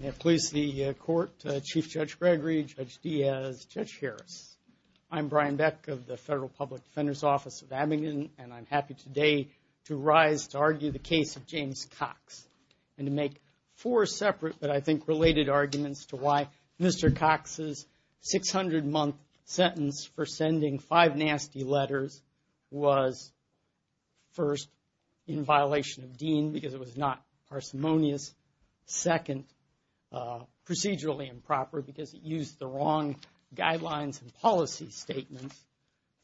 May it please the court, Chief Judge Gregory, Judge Diaz, Judge Harris. I'm Brian Beck of the Federal Public Defender's Office of Abingdon, and I'm happy today to rise to argue the case of James Cox and to make four separate, but I think related, arguments to why Mr. Cox's 600-month sentence for sending five nasty letters was, first, in violation of Dean because it was not parsimonious, second, procedurally improper because it used the wrong guidelines and policy statements,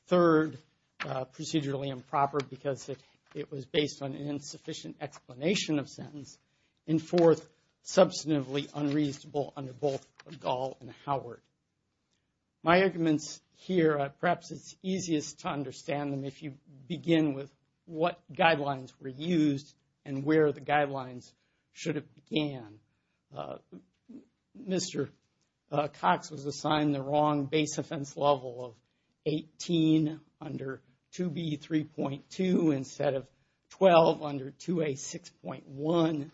third, procedurally improper because it was based on an insufficient explanation of sentence, and fourth, substantively unreasonable under both Gall and Howard. My arguments here, perhaps it's easiest to understand them if you begin with what guidelines were used and where the guidelines should have began. Mr. Cox was assigned the wrong base offense level of 18 under 2B3.2 instead of 12 under 2A6.1.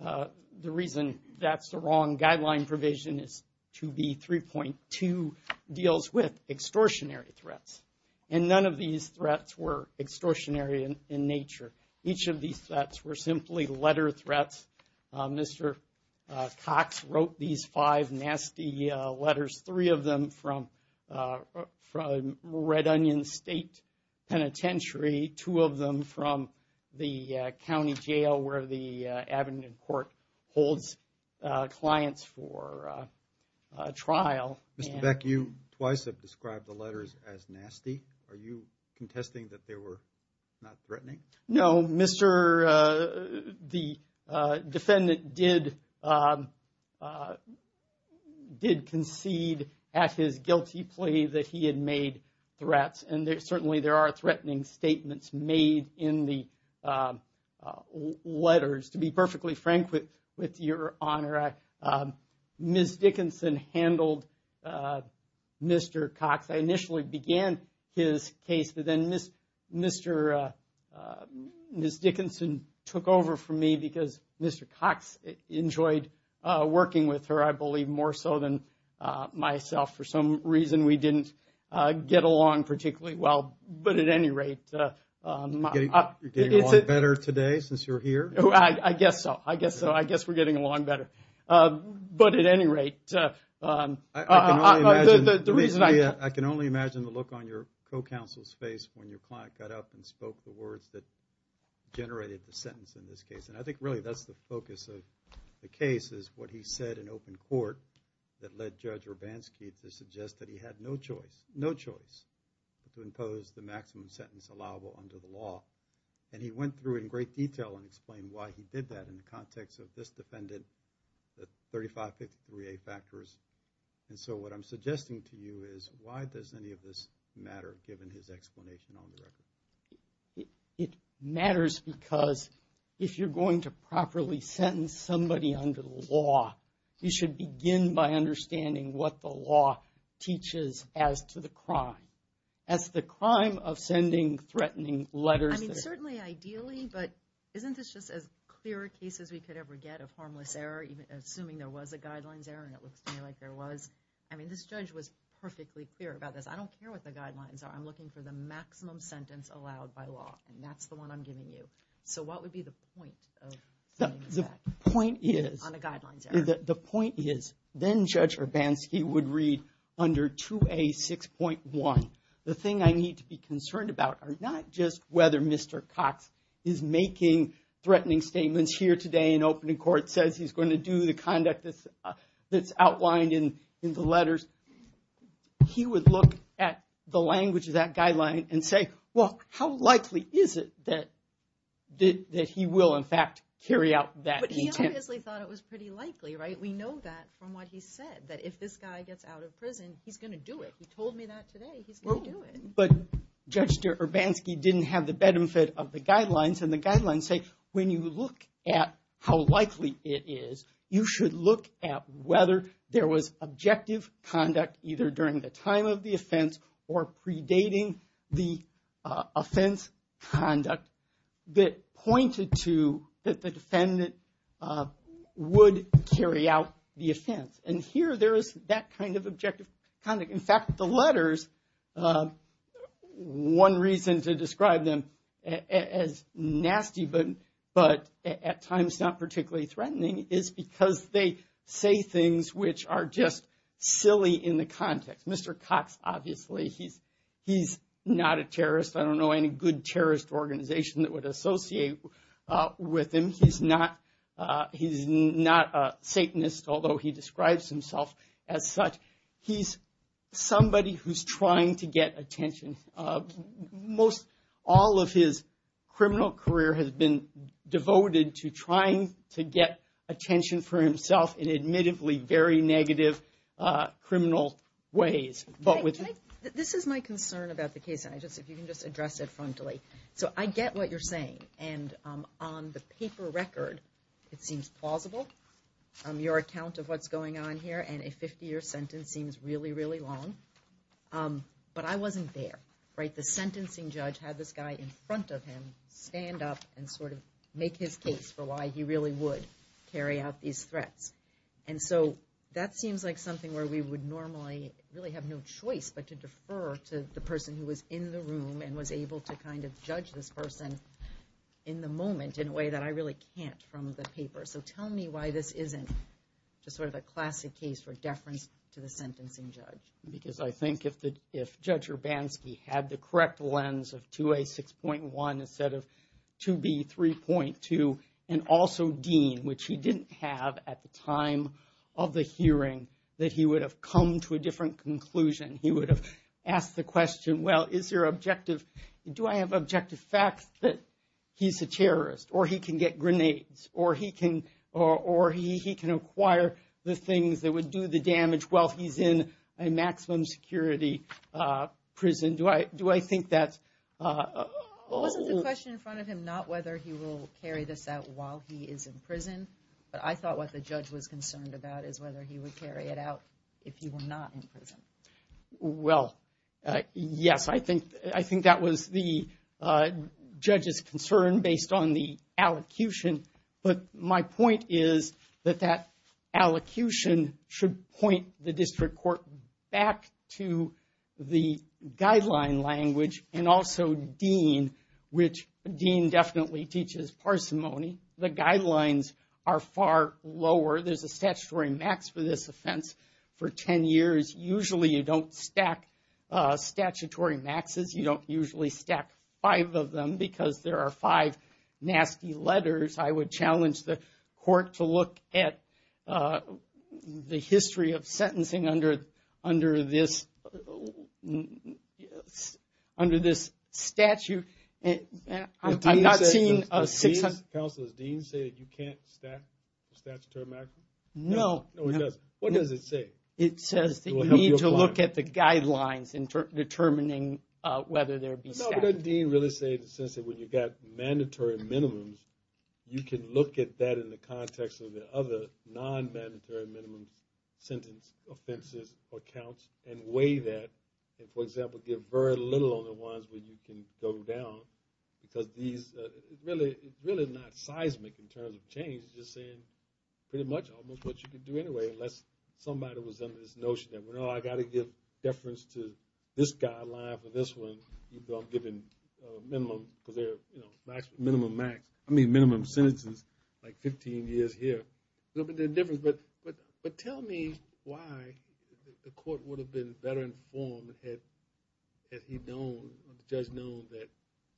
The reason that's the wrong guideline provision is 2B3.2 deals with extortionary threats, and none of these threats were extortionary in nature. Each of these threats were simply letter threats. Mr. Cox wrote these five nasty letters, three of them from Red Onion State Penitentiary, two of them from the county jail where the Abingdon Court holds clients for trial. Mr. Beck, you twice have described the letters as nasty. Are you contesting that they were not threatening? No. The defendant did concede at his guilty plea that he had made threats, and certainly there are threatening statements made in the letters. To be perfectly frank with your Honor, Ms. Dickinson handled Mr. Cox. I initially began his case, but then Ms. Dickinson took over for me because Mr. Cox enjoyed working with her, I believe, more so than myself. For some reason, we didn't get along particularly well, but at any rate, it's a better today since you're here. I guess so. I guess so. I guess we're getting along better. But at any rate, I can only imagine the look on your co-counsel's face when your client got up and spoke the words that generated the sentence in this case, and I think really that's the focus of the case is what he said in open court that led Judge Urbanski to suggest that he had no choice to impose the and explain why he did that in the context of this defendant, the 3553A factors. And so what I'm suggesting to you is why does any of this matter, given his explanation on the record. It matters because if you're going to properly sentence somebody under the law, you should begin by understanding what the law teaches as to the crime. As the crime of sending threatening letters... I mean, certainly ideally, but isn't this just as clear a case as we could ever get of harmless error, even assuming there was a guidelines error and it looks to me like there was? I mean, this judge was perfectly clear about this. I don't care what the guidelines are. I'm looking for the maximum sentence allowed by law, and that's the one I'm giving you. So what would be the point of that? The point is, then Judge Urbanski would read under 2A6.1, the thing I need to be concerned about are not just whether Mr. Cox is making threatening statements here today in opening court, says he's going to do the conduct that's outlined in the letters. He would look at the language of that guideline and say, well, how likely is it that he will in fact carry out that intent? But he obviously thought it was pretty likely, right? We know that from what he said, that if this guy gets out of prison, he's going to do it. He told me that today, he's going to do it. But Judge Urbanski didn't have the benefit of the guidelines, and the guidelines say, when you look at how likely it is, you should look at whether there was objective conduct, either during the time of the offense or predating the offense conduct that pointed to that the defendant would carry out the offense. And here there is that kind of objective conduct. In fact, the letters, one reason to describe them as nasty but at times not particularly threatening is because they say things which are just silly in the context. Mr. Cox, obviously, he's not a terrorist. I don't know any good terrorist organization that would associate with him. He's not a Satanist, although he describes himself as such. He's somebody who's trying to get attention. Most all of his criminal career has been devoted to trying to get attention for himself in admittedly very negative criminal ways. But with this is my concern about the case, if you can just address it frontally. So I get what you're saying. And on the paper record, it seems plausible. Your account of what's going on here and a 50-year sentence seems really, really long. But I wasn't there, right? The sentencing judge had this guy in front of him stand up and sort of make his case for why he really would carry out these threats. And so that seems like something where we would normally really have no choice but to defer to the person who was in the room and was able to kind of judge this person in the moment in a way that I really can't from the paper. So tell me why this isn't just sort of a classic case for deference to the sentencing judge. Because I think if Judge Urbanski had the correct lens of 2A6.1 instead of 2B3.2, and also Dean, which he didn't have at the time of the hearing, that he would have come to a different conclusion. He would have asked the question, well, do I have objective facts that he's a terrorist? Or he can get grenades? Or he can acquire the things that would do the damage while he's in a maximum security prison? Do I think that's... It wasn't the question in front of him, not whether he will carry this out while he is in prison. But I thought what the judge was Well, yes, I think that was the judge's concern based on the allocution. But my point is that that allocution should point the district court back to the guideline language and also Dean, which Dean definitely teaches parsimony. The guidelines are far lower. There's a statutory max for this Usually, you don't stack statutory maxes. You don't usually stack five of them because there are five nasty letters. I would challenge the court to look at the history of sentencing under this statute. I've not seen a six-hundred... Counselors, did Dean say that you can't stack statutory maxes? No. No, he doesn't. What does it say? It says that you need to look at the guidelines in determining whether there be... No, but doesn't Dean really say in a sense that when you've got mandatory minimums, you can look at that in the context of the other non-mandatory minimum sentence offenses or counts and weigh that and, for example, give very little on the ones where you can go down because these... It's really not seismic in terms of change. It's just saying pretty much almost what you could do anyway, unless somebody was under this notion that, well, no, I've got to give deference to this guideline for this one. I'm giving minimum because they're minimum max. I mean minimum sentences like 15 years here. There's a difference, but tell me why the court would have been better informed had he known or the judge known that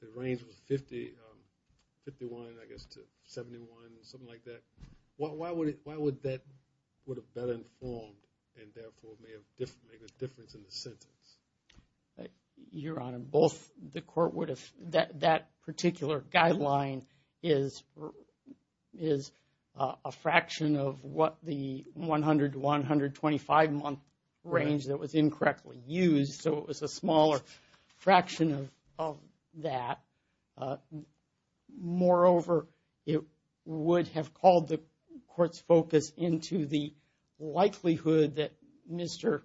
the range was 51, I guess, to 71 or something like that. Why would that would have been informed and therefore made a difference in the sentence? Your Honor, both the court would have... That particular guideline is a fraction of what the 100 to 125 month range that was incorrectly used, so it was a smaller fraction of that. Moreover, it would have called the court's focus into the likelihood that Mr.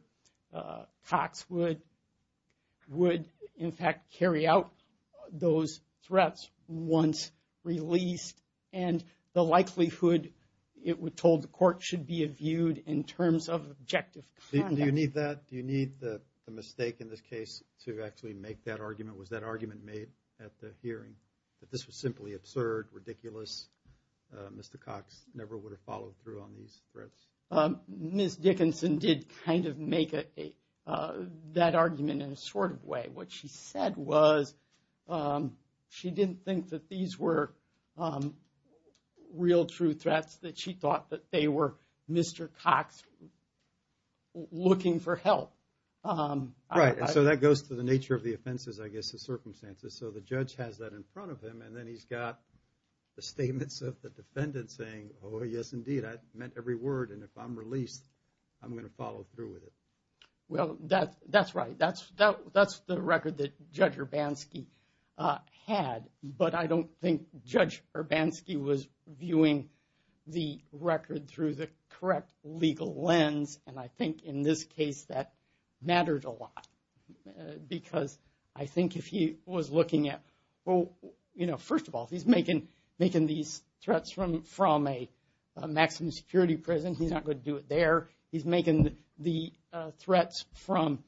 Cox would, would, in fact, carry out those threats once released and the likelihood it was told the court should be viewed in terms of objective conduct. Do you need that? Do you need the mistake in this case to actually make that argument? Was that argument made at the hearing, that this was simply absurd, ridiculous, Mr. Cox never would have followed through on these threats? Ms. Dickinson did kind of make that argument in a sort of way. What she said was she didn't think that these were real true threats, that she thought that they were Mr. Cox looking for help. Right. And so that goes to the nature of the offenses, I guess, the circumstances. So the judge has that in front of him, and then he's got the statements of the defendant saying, oh, yes, indeed, I meant every word, and if I'm released, I'm going to follow through with it. Well, that's right. That's the record that Judge Urbanski had, but I don't think Judge Urbanski was viewing the record through the correct legal lens. And I think in this case, that mattered a lot, because I think if he was looking at, well, you know, first of all, he's making these threats from a maximum security prison, he's not going to do it there. He's making the threats from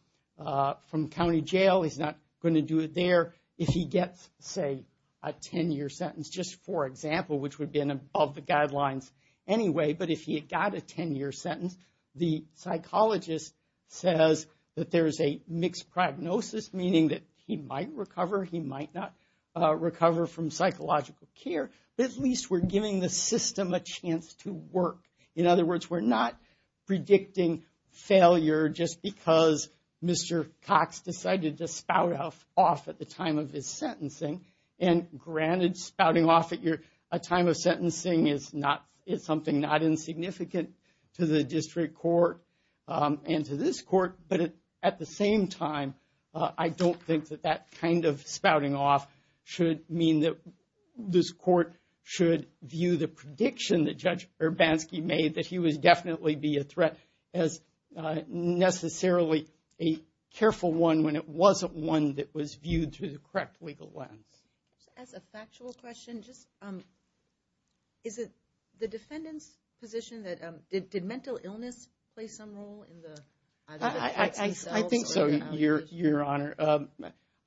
county jail, he's not going to do it there. If he gets, say, a 10-year sentence, just for example, which would have been above the guidelines anyway, but if he had got a 10-year sentence, the psychologist says that there's a mixed prognosis, meaning that he might recover, he might not recover from psychological care, but at least we're giving the system a chance to work. In other words, we're not predicting failure just because Mr. Cox decided to spout off at the time of his sentencing. And granted, spouting off at a time of sentencing is something not insignificant to the district court and to this court, but at the same time, I don't think that that kind of spouting off should mean that this court should view the prediction that Judge Urbanski made that he would definitely be a threat as necessarily a careful one when it wasn't one that was viewed through the correct legal lens. As a factual question, just, is it the defendant's position that, did mental illness play some role in the... I think so, Your Honor.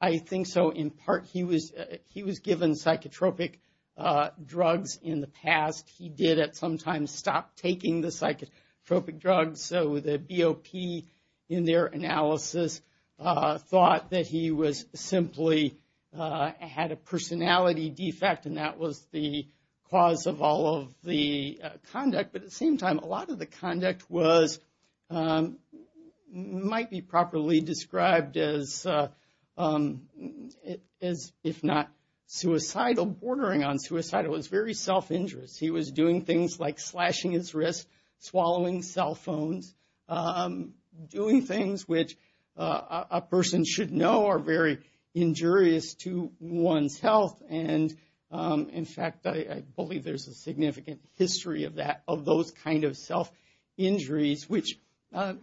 I think so, in part, he was given psychotropic drugs in the past. He did at some time stop taking the psychotropic drugs. So the BOP in their analysis thought that he was simply, had a personality defect, and that was the cause of all of the conduct. But at the same time, a lot of the conduct was, might be properly described as, if not suicidal, bordering on suicidal, was very self-injurious. He was doing things like slashing his wrist, swallowing cell phones, doing things which a person should know are very injurious to one's health. And in fact, I believe there's a significant history of that, of those kinds of self-injuries, which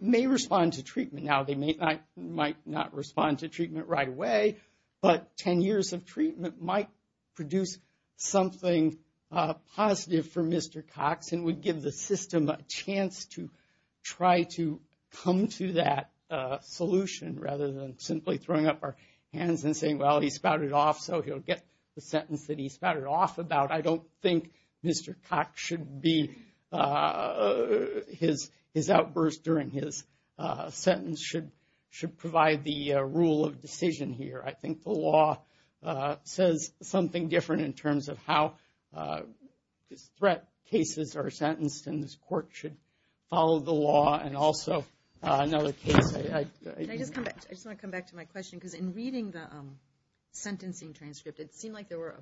may respond to treatment. Now, they might not respond to treatment right away, but 10 years of treatment might produce something positive for Mr. Cox, and would give the system a chance to try to come to that solution, rather than simply throwing up our hands and saying, well, he spouted off, so he'll get the sentence that he spouted off about. I don't think Mr. Cox should be, his outburst during his sentence should provide the rule of decision here. I think the law says something different in terms of how threat cases are sentenced, and this court should follow the law, and also another case. I just want to come back to my question, because in reading the sentencing transcript, it seemed like there were,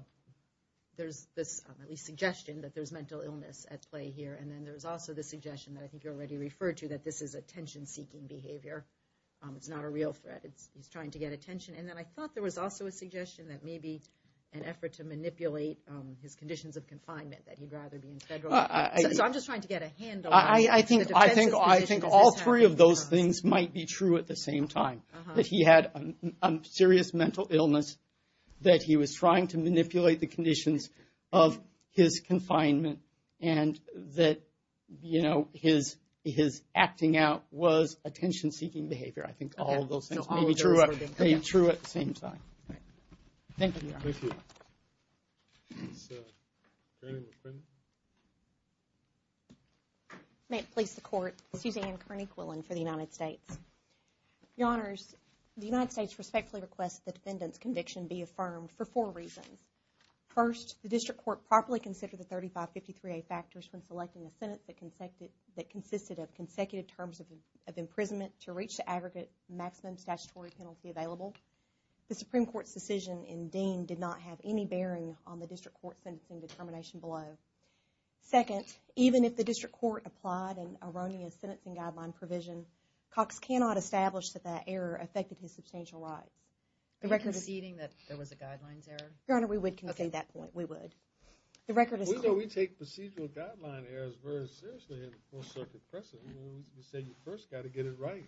there's this suggestion that there's mental illness at play here, and then there's also the suggestion that I think you already referred to, that this is attention-seeking behavior. It's not a real threat, he's trying to get attention. And then I thought there was also a suggestion that maybe an effort to manipulate his conditions of confinement, that he'd rather be in federal detention. So I'm just trying to get a handle on the defense's position. I think all three of those things might be true at the same time. That he had a serious mental illness, that he was trying to manipulate the conditions of his confinement, and that his acting out was attention-seeking behavior. I think all of those things may be true at the same time. Thank you, Your Honor. May it please the Court, Suzanne Kearney-Quillen for the United States. Your Honors, the United States respectfully requests that the defendant's conviction be affirmed for four reasons. First, the District Court properly considered the 3553A factors when selecting a sentence that consisted of consecutive terms of imprisonment to reach aggregate maximum statutory penalty available. The Supreme Court's decision in Dean did not have any bearing on the District Court's sentencing determination below. Second, even if the District Court applied an erroneous sentencing guideline provision, Cox cannot establish that that error affected his substantial rights. Are you conceding that there was a guidelines error? Your Honor, we would concede that point. We would. The record is clear. We take procedural guideline errors very seriously in the Fourth Circuit precedent. We say you first got to get it right.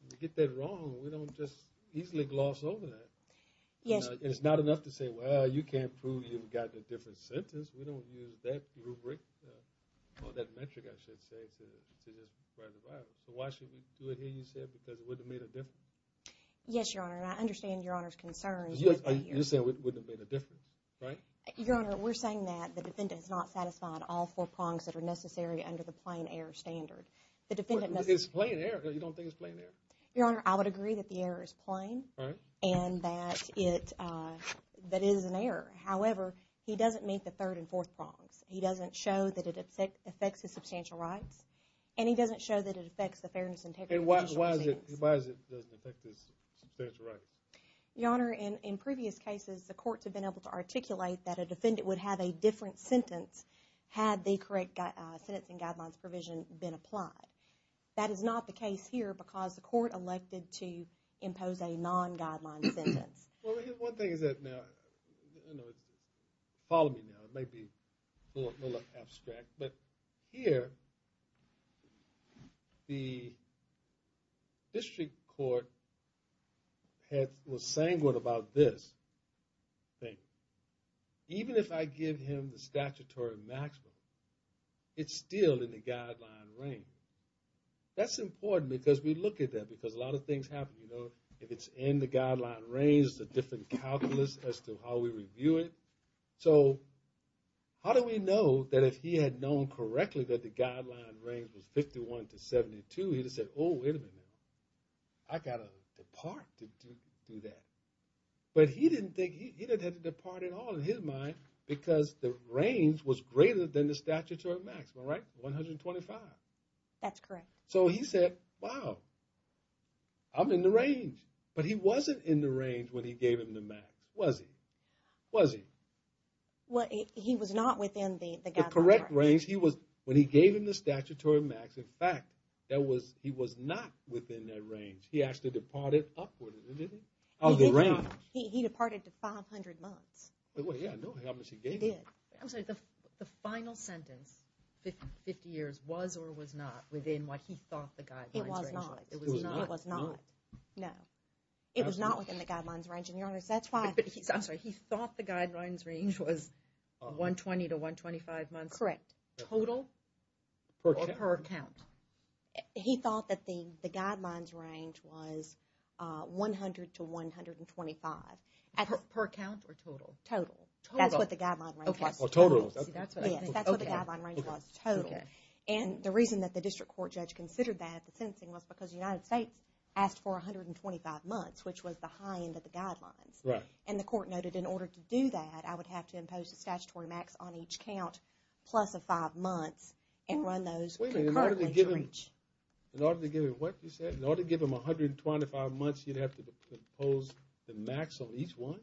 When you get that wrong, we don't just easily gloss over that. Yes. It's not enough to say, well, you can't prove you've gotten a different sentence. We don't use that rubric, or that metric, I should say, to describe the violence. So why should we do it here, you said, because it wouldn't have made a difference? Yes, Your Honor, and I understand Your Honor's concern. You're saying it wouldn't have made a difference, right? Your Honor, we're saying that the defendant has not satisfied all four prongs that are necessary under the plain error standard. It's plain error? You don't think it's plain error? Your Honor, I would agree that the error is plain, and that it is an error. However, he doesn't meet the third and fourth prongs. He doesn't show that it affects his substantial rights, and he doesn't show that it affects the fairness and integrity of judicial proceedings. And why does it not affect his substantial rights? Your Honor, in previous cases, the courts have been different sentence had the correct sentencing guidelines provision been applied. That is not the case here, because the court elected to impose a non-guideline sentence. Well, one thing is that now, you know, follow me now. It may be a little abstract, but here the district court was sanguine about this thing. Even if I give him the statutory maximum, it's still in the guideline range. That's important, because we look at that, because a lot of things happen, you know. If it's in the guideline range, the different calculus as to how we review it. So how do we know that if he had known correctly that the guideline would depart to do that? But he didn't think, he didn't have to depart at all in his mind, because the range was greater than the statutory maximum, right? 125. That's correct. So he said, wow, I'm in the range. But he wasn't in the range when he gave him the max, was he? Was he? Well, he was not within the guideline range. The correct range, he was, when he gave him the statutory max, in fact, that was, he was not within that range. He actually departed upward, didn't he? Oh, the range. He departed to 500 months. Well, yeah, I know how much he gave him. I'm sorry, the final sentence, 50 years, was or was not within what he thought the guidelines range was. It was not. It was not. No. It was not within the guidelines range, and your honor, that's why. But he's, I'm sorry, he thought the guidelines range was 120 to 125 months. Correct. Total. Or per count. He thought that the guidelines range was 100 to 125. Per count or total? Total. That's what the guideline range was. Okay. Well, total. Yes, that's what the guideline range was, total. And the reason that the district court judge considered that, the sentencing, was because the United States asked for 125 months, which was the high end of the guidelines. Right. And the court noted, in order to do that, I would have to impose a statutory max on each count, plus a five months, and run those concurrently to reach. Wait a minute, in order to give him, in order to give him, what you said, in order to give him 125 months, you'd have to impose the max on each one?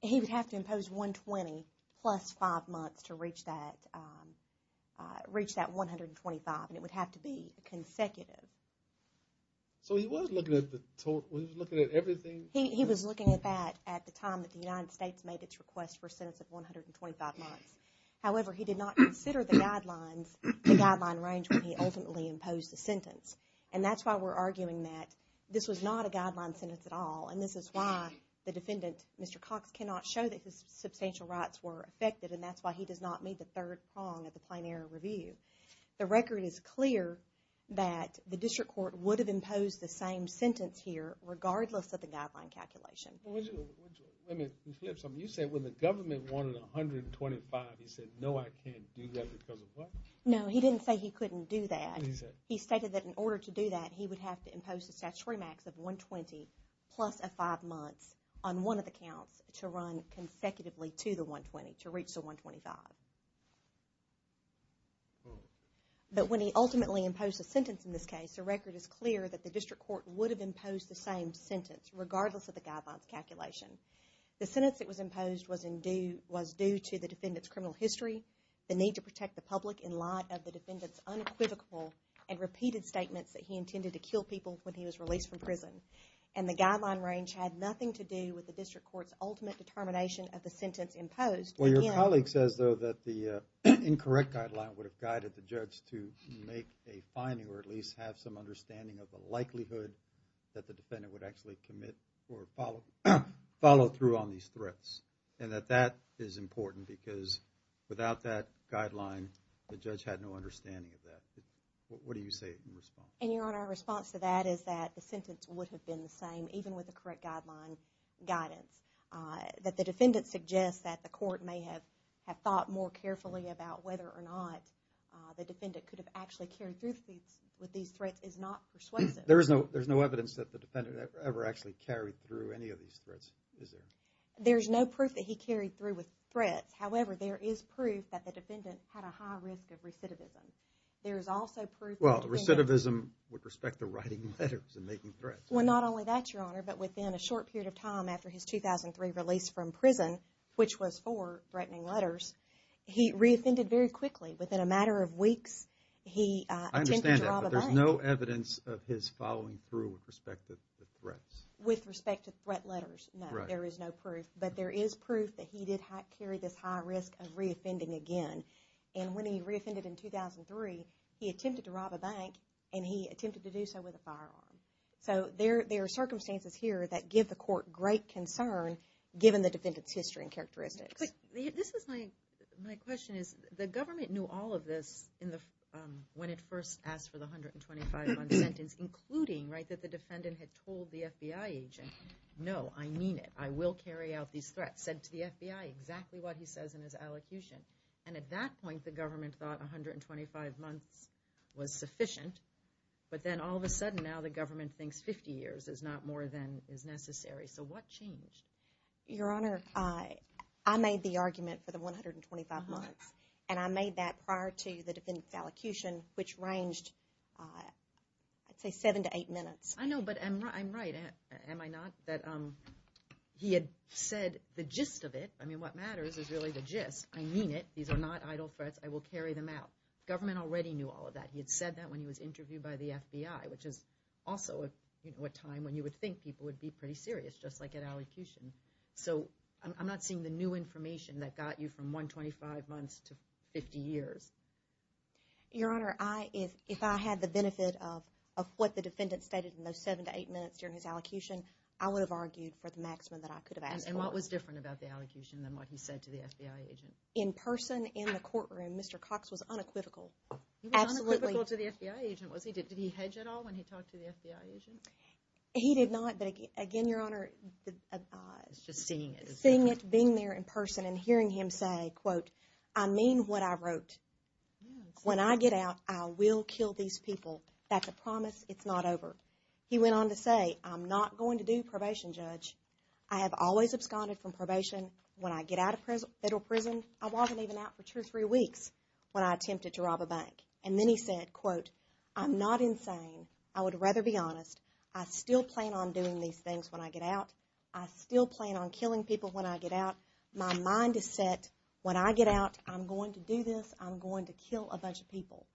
He would have to impose 120 plus five months to reach that, reach that 125, and it would have to be consecutive. So he was looking at the total, he was looking at everything? He was looking at that at the time that the United States made its request for a sentence of 125 months. However, he did not consider the guidelines, the guideline range when he ultimately imposed the sentence. And that's why we're arguing that this was not a guideline sentence at all, and this is why the defendant, Mr. Cox, cannot show that his substantial rights were affected, and that's why he does not meet the third prong of the plain error review. The record is clear that the district court would have imposed the same sentence here, regardless of the guideline calculation. You said when the government wanted 125, he said, no, I can't do that because of what? No, he didn't say he couldn't do that. He stated that in order to do that, he would have to impose a statutory max of 120 plus a five months on one of the counts to run consecutively to the 120, to reach the 125. But when he ultimately imposed a sentence in this case, the record is clear that the district court would have imposed the same sentence, regardless of the guidelines calculation. The sentence that was imposed was due to the defendant's criminal history, the need to protect the public in light of the defendant's unequivocal and repeated statements that he intended to kill people when he was released from prison. And the guideline range had nothing to do with the district court's ultimate determination of the sentence imposed. Well, your colleague says, though, that the incorrect guideline would have guided the judge to make a finding or at least have some likelihood that the defendant would actually commit or follow through on these threats. And that that is important because without that guideline, the judge had no understanding of that. What do you say in response? And your Honor, our response to that is that the sentence would have been the same, even with the correct guideline guidance. That the defendant suggests that the court may have thought more carefully about whether or not the defendant could have actually carried through with these threats is not persuasive. There is no evidence that the defendant ever actually carried through any of these threats, is there? There's no proof that he carried through with threats. However, there is proof that the defendant had a high risk of recidivism. There is also proof. Well, recidivism with respect to writing letters and making threats. Well, not only that, your Honor, but within a short period of time after his 2003 release from prison, which was for threatening letters, he reoffended very quickly. Within a I understand that, but there's no evidence of his following through with respect to the threats. With respect to threat letters, no. There is no proof. But there is proof that he did carry this high risk of reoffending again. And when he reoffended in 2003, he attempted to rob a bank and he attempted to do so with a firearm. So there are circumstances here that give the court great concern given the defendant's history and characteristics. This is my question is, the government knew all of this when it first asked for the 125-month sentence, including, right, that the defendant had told the FBI agent, no, I mean it, I will carry out these threats, said to the FBI exactly what he says in his allocution. And at that point, the government thought 125 months was sufficient. But then all of a sudden now the government thinks 50 years is not more than is necessary. So what changed? Your Honor, I made the argument for the 125 months. And I made that prior to the defendant's allocution, which ranged, I'd say, seven to eight minutes. I know, but I'm right, am I not, that he had said the gist of it. I mean, what matters is really the gist. I mean it. These are not idle threats. I will carry them out. Government already knew all of that. He had said that when he was interviewed by the FBI, which is also a time when you would think people would be pretty serious, just like at allocution. So I'm not seeing the new information that got you from 125 months to 50 years. Your Honor, if I had the benefit of what the defendant stated in those seven to eight minutes during his allocution, I would have argued for the maximum that I could have asked for. And what was different about the allocution than what he said to the FBI agent? In person, in the courtroom, Mr. Cox was unequivocal. He was unequivocal to the FBI agent, was he? Did he hedge at all when he talked to the FBI agent? He did not. But again, Your Honor, seeing it, being there in person and hearing him say, quote, I mean what I wrote. When I get out, I will kill these people. That's a promise. It's not over. He went on to say, I'm not going to do probation, Judge. I have always absconded from probation. When I get out of federal prison, I wasn't even out for two or three weeks when I attempted to rob a bank. And then he said, quote, I'm not insane. I would rather be honest. I still plan on doing these things when I get out. I still plan on killing people when I get out. My mind is set. When I get out, I'm going to do this. I'm going to kill a bunch of people.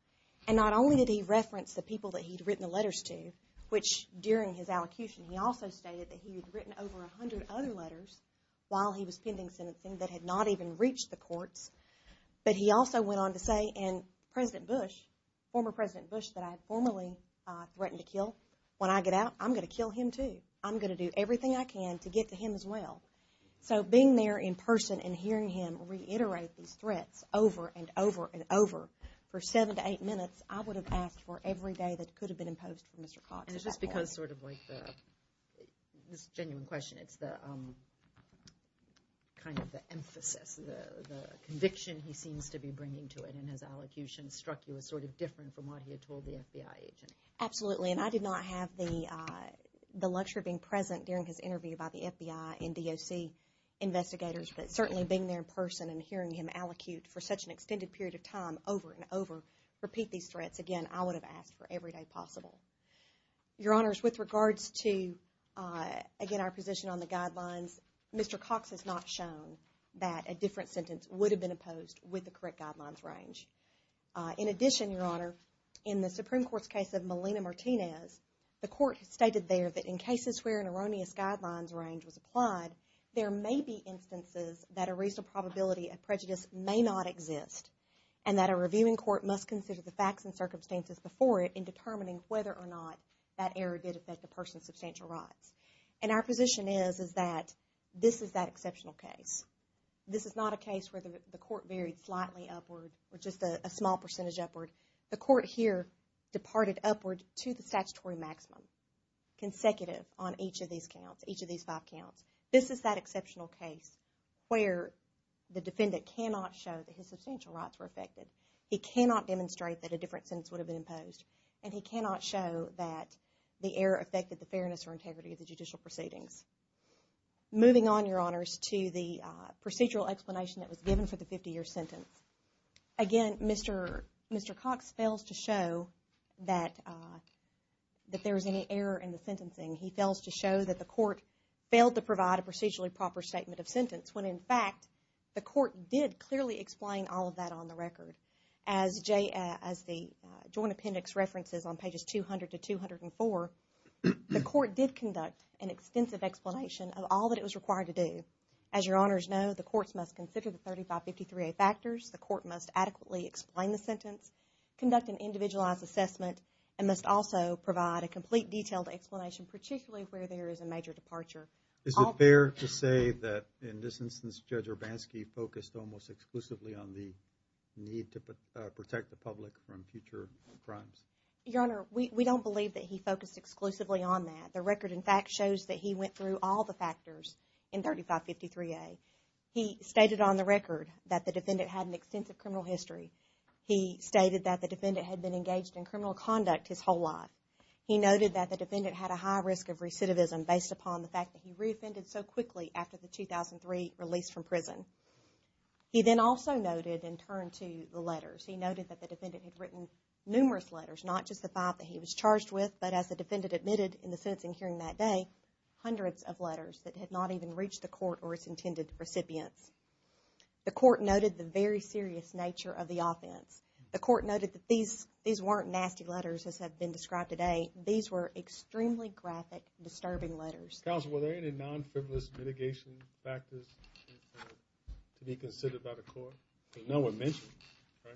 And not only did he reference the people that he'd written the letters to, which during his allocution, he also stated that he had written over 100 other letters while he was pending sentencing that had not even reached the courts. But he also went on to say, and President Bush, former President Bush that I had formerly threatened to kill, when I get out, I'm going to kill him too. I'm going to do everything I can to get to him as well. So being there in person and hearing him reiterate these threats over and over and over for seven to eight minutes, I would have asked for every day that could have been imposed for Mr. Cox. And it's just because sort of like the, this is a genuine question, it's the kind of the emphasis, the conviction he seems to be bringing to it in his allocution struck you as sort of different from what he had told the FBI agent. Absolutely. And I did not have the luxury of being present during his interview by the FBI and DOC investigators, but certainly being there in person and hearing him allocute for such an extended period of time over and over, repeat these threats, again, I would have asked for every day possible. Your Honors, with regards to, again, our position on the guidelines, Mr. Cox has not shown that a different sentence would have been imposed with the correct guidelines range. In addition, Your Honor, in the Supreme Court's case of Melina Martinez, the court has stated there that in cases where an erroneous guidelines range was applied, there may be instances that a reasonable probability of prejudice may not exist and that a reviewing court must consider the facts and circumstances before it in determining whether that error did affect the person's substantial rights. And our position is that this is that exceptional case. This is not a case where the court varied slightly upward or just a small percentage upward. The court here departed upward to the statutory maximum consecutive on each of these counts, each of these five counts. This is that exceptional case where the defendant cannot show that his substantial rights were affected. He cannot demonstrate that a different sentence would have been imposed and he cannot show that the error affected the fairness or integrity of the judicial proceedings. Moving on, Your Honors, to the procedural explanation that was given for the 50-year sentence. Again, Mr. Cox fails to show that there was any error in the sentencing. He fails to show that the court failed to provide a procedurally proper statement of sentence when, in fact, the court did clearly explain all of that on the record. As the joint appendix references on pages 200 to 204, the court did conduct an extensive explanation of all that it was required to do. As Your Honors know, the courts must consider the 3553A factors, the court must adequately explain the sentence, conduct an individualized assessment, and must also provide a complete detailed explanation, particularly where there is a major departure. Is it fair to say that in this instance, Judge Urbanski focused almost exclusively on the need to protect the public from future crimes? Your Honor, we don't believe that he focused exclusively on that. The record, in fact, shows that he went through all the factors in 3553A. He stated on the record that the defendant had an extensive criminal history. He stated that the defendant had been engaged in criminal conduct his whole life. He noted that the defendant had a high risk of recidivism based upon the fact that he reoffended so quickly after the 2003 release from prison. He then also noted and turned to the letters. He noted that the defendant had written numerous letters, not just the five that he was charged with, but as the defendant admitted in the sentencing hearing that day, hundreds of letters that had not even reached the court or its intended recipients. The court noted the very serious nature of the offense. The court noted that these weren't nasty letters as have been any non-frivolous mitigation factors to be considered by the court? There's no one mentioned, right?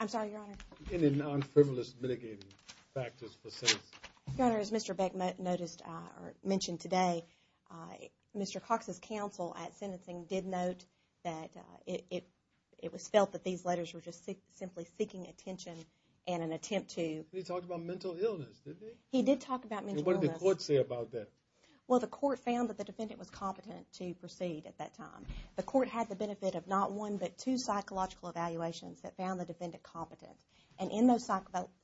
I'm sorry, Your Honor. Any non-frivolous mitigating factors for sentencing? Your Honor, as Mr. Beck noticed or mentioned today, Mr. Cox's counsel at sentencing did note that it was felt that these letters were just simply seeking attention and an attempt to... He talked about mental illness, didn't he? He did talk about mental illness. And what did the court say about that? Well, the court found that the defendant was competent to proceed at that time. The court had the benefit of not one but two psychological evaluations that found the defendant competent. And in those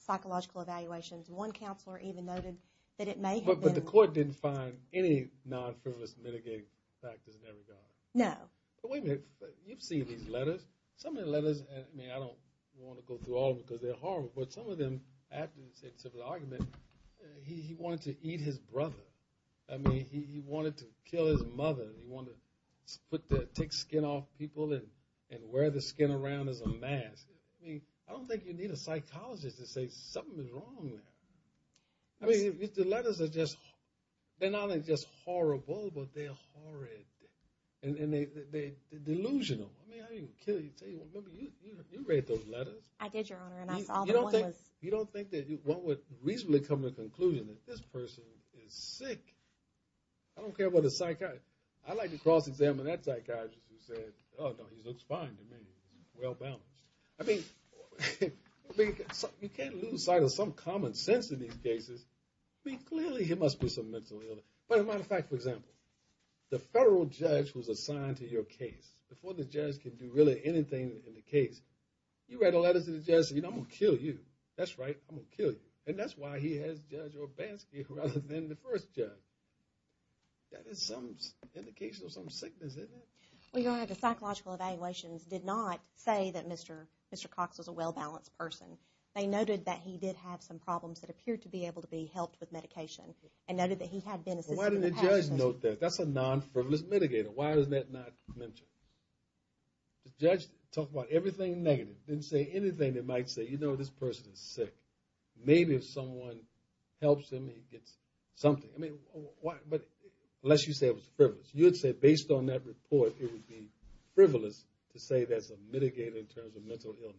psychological evaluations, one counselor even noted that it may have been... But the court didn't find any non-frivolous mitigating factors in every document? No. But wait a minute, you've seen these letters. Some of the letters, I mean, I don't want to go through all of them because they're horrible. But some of them, after the argument, he wanted to eat his brother. I mean, he wanted to kill his mother. He wanted to take skin off people and wear the skin around as a mask. I mean, I don't think you need a psychologist to say something is wrong there. I mean, the letters are just... They're not only just letters. I did, Your Honor, and I saw that one was... You don't think that one would reasonably come to the conclusion that this person is sick. I don't care what the psychiatrist... I'd like to cross-examine that psychiatrist who said, oh, no, he looks fine to me. He's well balanced. I mean, you can't lose sight of some common sense in these cases. I mean, clearly, he must be some mental illness. But as a matter of fact, for example, the federal judge was assigned to your case. Before the judge can do really anything in the case, you write a letter to the judge saying, I'm going to kill you. That's right, I'm going to kill you. And that's why he has Judge Orbanski rather than the first judge. That is some indication of some sickness, isn't it? Well, Your Honor, the psychological evaluations did not say that Mr. Cox was a well-balanced person. They noted that he did have some problems that appeared to be able to be helped with medication and noted that he had been assisted in the past. Why does the judge note that? That's a non-frivolous mitigator. Why is that not mentioned? The judge talked about everything negative, didn't say anything that might say, you know, this person is sick. Maybe if someone helps him, he gets something. I mean, unless you say it was frivolous, you would say based on that report, it would be frivolous to say that's a mitigator in terms of mental illness.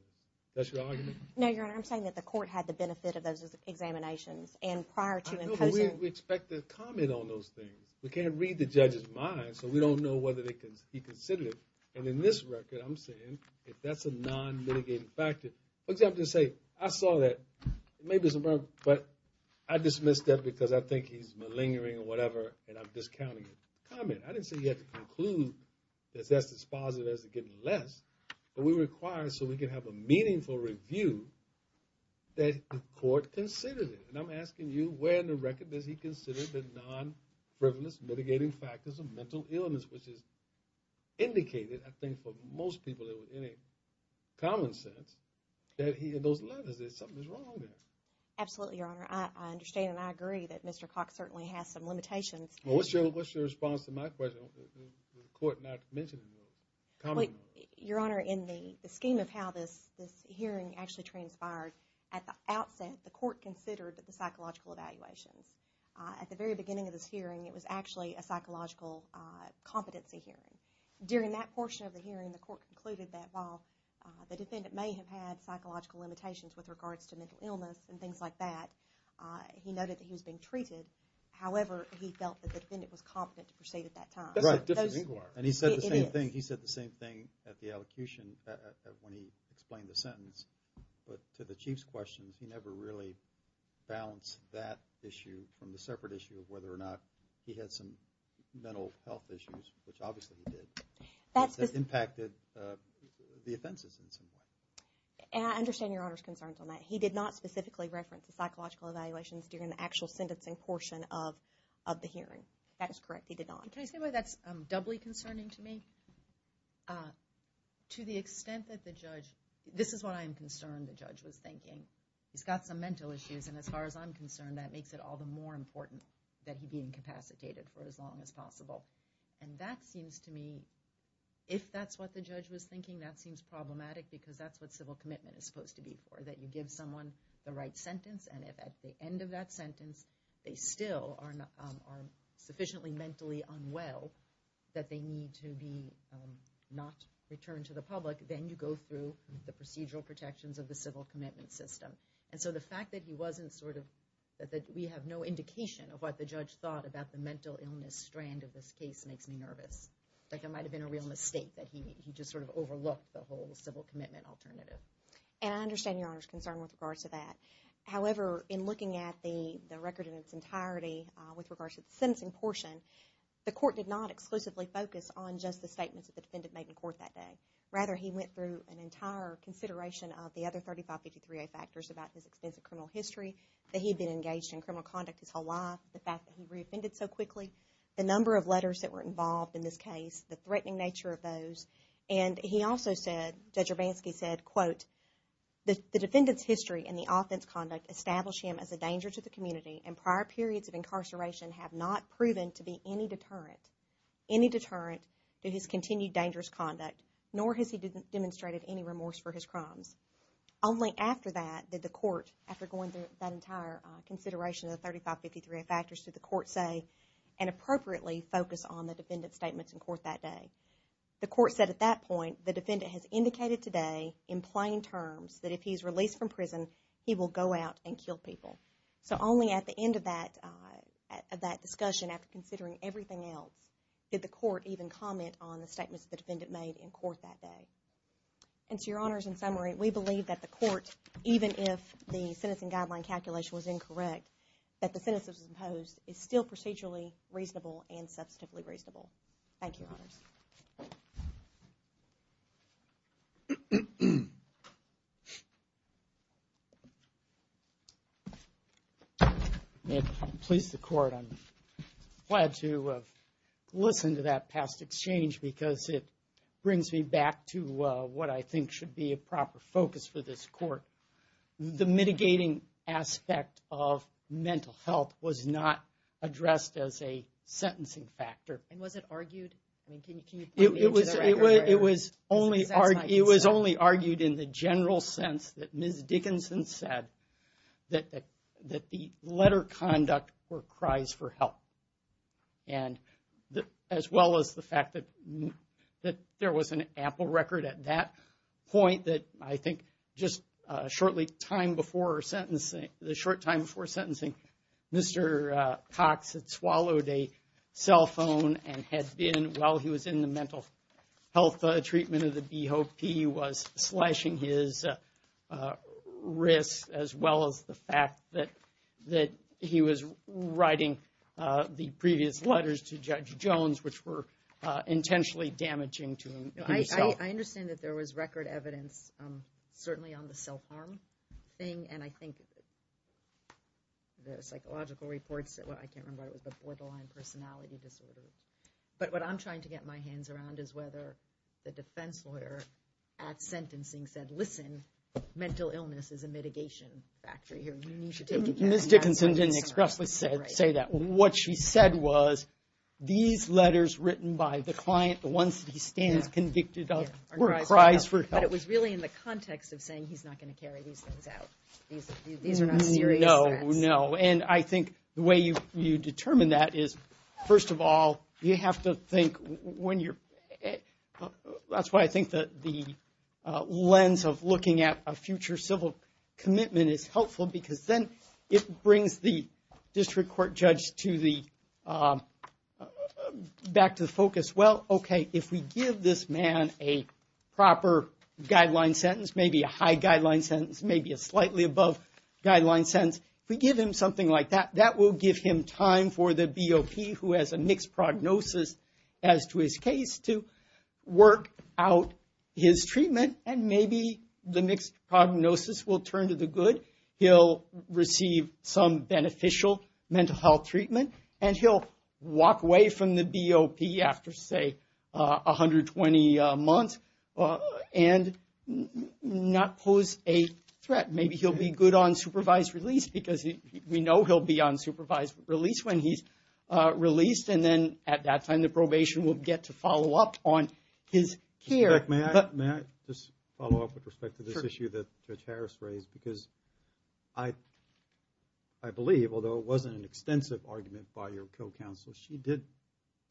That's your argument? No, Your Honor, I'm saying that the court had the benefit of those examinations and prior to imposing... We can't read the judge's mind, so we don't know whether he considered it. And in this record, I'm saying if that's a non-mitigating factor, for example, to say, I saw that, maybe it's wrong, but I dismissed that because I think he's malingering or whatever, and I'm discounting it. I didn't say you have to conclude that that's as positive as it gets less, but we require so we can have a meaningful review that the court considered it. And I'm asking you, where in the record does he consider the non-frivolous mitigating factors of mental illness, which is indicated, I think, for most people, it was any common sense, that he had those letters, that something was wrong there. Absolutely, Your Honor. I understand and I agree that Mr. Clark certainly has some limitations. What's your response to my question? The court not mentioning the common... Your Honor, in the scheme of how this hearing actually transpired, at the outset, the court considered the psychological evaluations. At the very beginning of this hearing, it was actually a psychological competency hearing. During that portion of the hearing, the court concluded that while the defendant may have had psychological limitations with regards to mental illness and things like that, he noted that he was being treated. However, he felt that the defendant was competent to proceed at that time. And he said the same thing. He said the same thing at the elocution when he explained the sentence, but to the Chief's questions, he never really balanced that issue from the separate issue of whether or not he had some mental health issues, which obviously he did, that impacted the offenses in some way. And I understand Your Honor's concerns on that. He did not specifically reference the psychological evaluations during the actual sentencing portion of the hearing. That is correct. He did not. Can I say why that's doubly concerning to me? To the extent that the judge... This is what I am concerned the judge was thinking. He's got some mental issues, and as far as I'm concerned, that makes it all the more important that he be incapacitated for as long as possible. And that seems to me, if that's what the judge was thinking, that seems problematic because that's what civil commitment is supposed to be for, that you give someone the right sentence, and if at the end of that sentence they still are sufficiently mentally unwell that they need to be not returned to the public, then you go through the procedural protections of the civil commitment system. And so the fact that he wasn't sort of... That we have no indication of what the judge thought about the mental illness strand of this case makes me nervous. Like it might have been a real mistake that he just sort of overlooked the whole civil commitment alternative. And I understand your Honor's concern with regards to that. However, in looking at the record in its entirety with regards to the sentencing portion, the court did not exclusively focus on just the statements of the defendant made in court that day. Rather, he went through an entire consideration of the other 3553A factors about his extensive criminal history, that he'd been engaged in criminal conduct his whole life, the fact that he reoffended so quickly, the number of letters that were involved in this case, the threatening nature of those, and he also said, Judge Urbanski said, quote, the defendant's history and the offense conduct established him as a danger to the community and prior periods of incarceration have not proven to be any deterrent, any deterrent to his continued dangerous conduct, nor has he demonstrated any remorse for his crimes. Only after that, did the court, after going through that entire consideration of the 3553A factors, did the court say and at that point, the defendant has indicated today, in plain terms, that if he's released from prison, he will go out and kill people. So only at the end of that discussion, after considering everything else, did the court even comment on the statements the defendant made in court that day. And so, Your Honors, in summary, we believe that the court, even if the sentencing guideline calculation was incorrect, that the sentences imposed is still procedurally reasonable and substantively reasonable. Thank you, Your Honors. May it please the court, I'm glad to have listened to that past exchange because it brings me back to what I think should be a proper focus for this court. The mitigating aspect of the sentencing factor. And was it argued? It was only argued in the general sense that Ms. Dickinson said that the letter conduct were cries for help. And as well as the fact that there was an ample record at that point that I think just a short time before sentencing, Mr. Cox had swallowed a cell phone and had been, while he was in the mental health treatment of the BOP, was slashing his wrists, as well as the fact that he was writing the previous letters to Judge Jones, which were intentionally damaging to himself. I understand that there was record evidence, certainly on the cell phone thing, and I think the psychological reports, I can't remember, it was the borderline personality disorder. But what I'm trying to get my hands around is whether the defense lawyer at sentencing said, listen, mental illness is a mitigation factor here. You need to take it as an answer. Ms. Dickinson didn't expressly say that. What she said was, these letters written by the client, the ones that he stands convicted of, were cries for help. But it was really in the context of saying, he's not going to carry these things out. These are not serious threats. No, no. And I think the way you determine that is, first of all, you have to think when you're, that's why I think that the lens of looking at a future civil commitment is helpful, because then it brings the district court judge to the, back to the focus. Well, okay, if we give this man a proper guideline sentence, maybe a high guideline sentence, maybe a slightly above guideline sentence, if we give him something like that, that will give him time for the BOP, who has a mixed prognosis as to his case, to work out his treatment and maybe the mixed prognosis will turn to the good. He'll receive some beneficial mental health treatment and he'll walk away from the BOP after, say, 120 months and not pose a threat. Maybe he'll be good on supervised release, because we know he'll be on supervised release when he's released, and then at that time, the probation will get to follow up on his care. Mr. Beck, may I just follow up with respect to this issue that Judge Harris raised? Because I believe, although it wasn't an extensive argument by your co-counsel, she did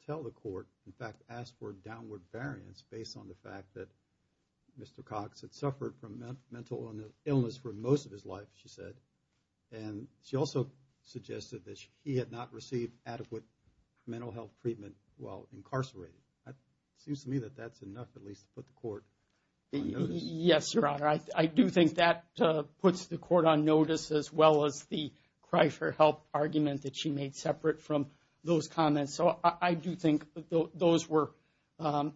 tell the court, in fact, ask for downward variance based on the fact that Mr. Cox had suffered from mental illness for most of his life, she said. And she also suggested that he had not received adequate mental health treatment while incarcerated. It seems to me that that's enough, at least, to put the court on notice. Yes, Your Honor. I do think that puts the court on notice, as well as the cry for help argument that she made separate from those comments. So, I do think those were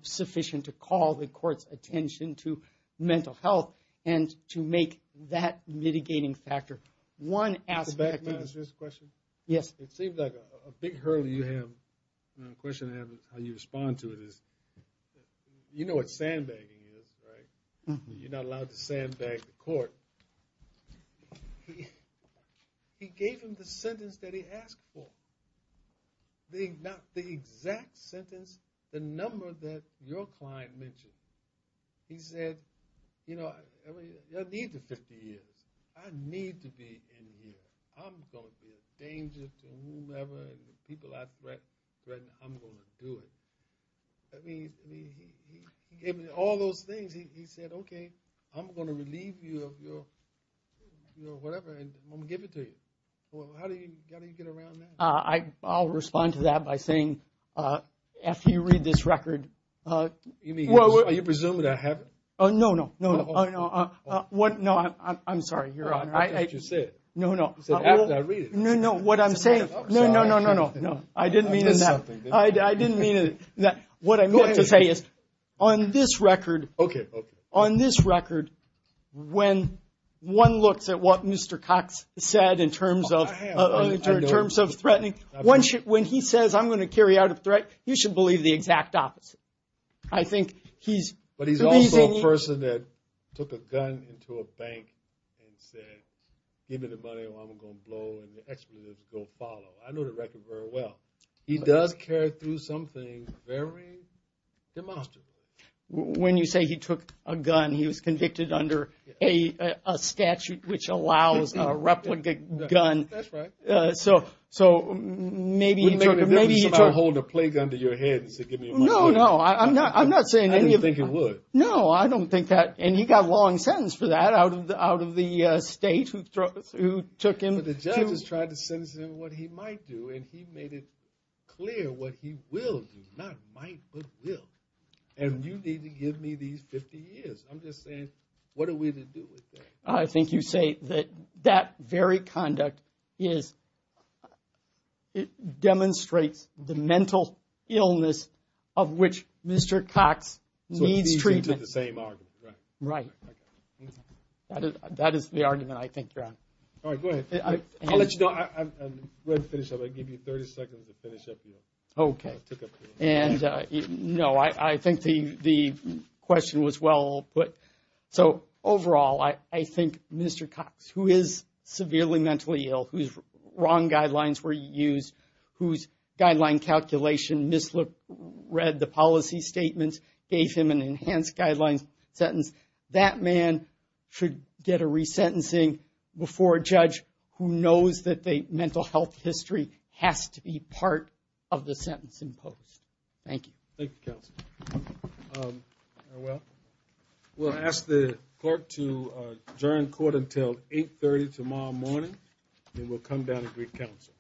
sufficient to call the court's attention to mental health and to make that mitigating factor. One aspect... Mr. Beck, may I ask you this question? Yes. It seems like a big hurdle you have, Your Honor. The question I have is how you respond to it is, you know what sandbagging is, right? You're not allowed to sandbag the court. He gave him the sentence that he asked for, the exact sentence, the number that your client mentioned. He said, you know, you'll need the 50 years. I need to be in here. I'm going to be a threat and I'm going to do it. I mean, he gave me all those things. He said, okay, I'm going to relieve you of your, you know, whatever, and I'm going to give it to you. Well, how do you get around that? I'll respond to that by saying, after you read this record... You mean, are you presuming that I haven't? Oh, no, no, no, no. No, I'm sorry, Your Honor. I thought you said... No, no. You said, after I read it. No, no. What I'm saying... No, no, no, no, no, no. I didn't mean... I didn't mean it. What I meant to say is, on this record, when one looks at what Mr. Cox said in terms of threatening, when he says, I'm going to carry out a threat, you should believe the exact opposite. I think he's... But he's also a person that took a gun into a bank and said, give me the money or I'm going to blow, and the expletives will follow. I know the record very well. He does carry through something very demonstrably. When you say he took a gun, he was convicted under a statute which allows a replica gun. That's right. So maybe he took a... Maybe somebody holding a plague under your head and said, give me the money. No, no. I'm not saying any of that. I didn't think he would. No, I don't think that. And he got a long sentence for that out of the state who took him. The judge has tried to sentence him for what he might do, and he made it clear what he will do, not might, but will. And you need to give me these 50 years. I'm just saying, what are we to do with that? I think you say that that very conduct is... It demonstrates the mental illness of which Mr. Cox needs treatment. So it feeds into the same argument, right? Right. That is the argument I think you're on. All right, go ahead. I'll let you know. I'm ready to finish up. I'll give you 30 seconds to finish up here. Okay. No, I think the question was well put. So overall, I think Mr. Cox, who is severely mentally ill, whose wrong guidelines were used, whose guideline calculation misread the policy statements, gave him an enhanced guideline sentence. That man should get a who knows that the mental health history has to be part of the sentence imposed. Thank you. Thank you, counsel. We'll ask the clerk to adjourn court until 8.30 tomorrow morning. Then we'll come down and greet counsel.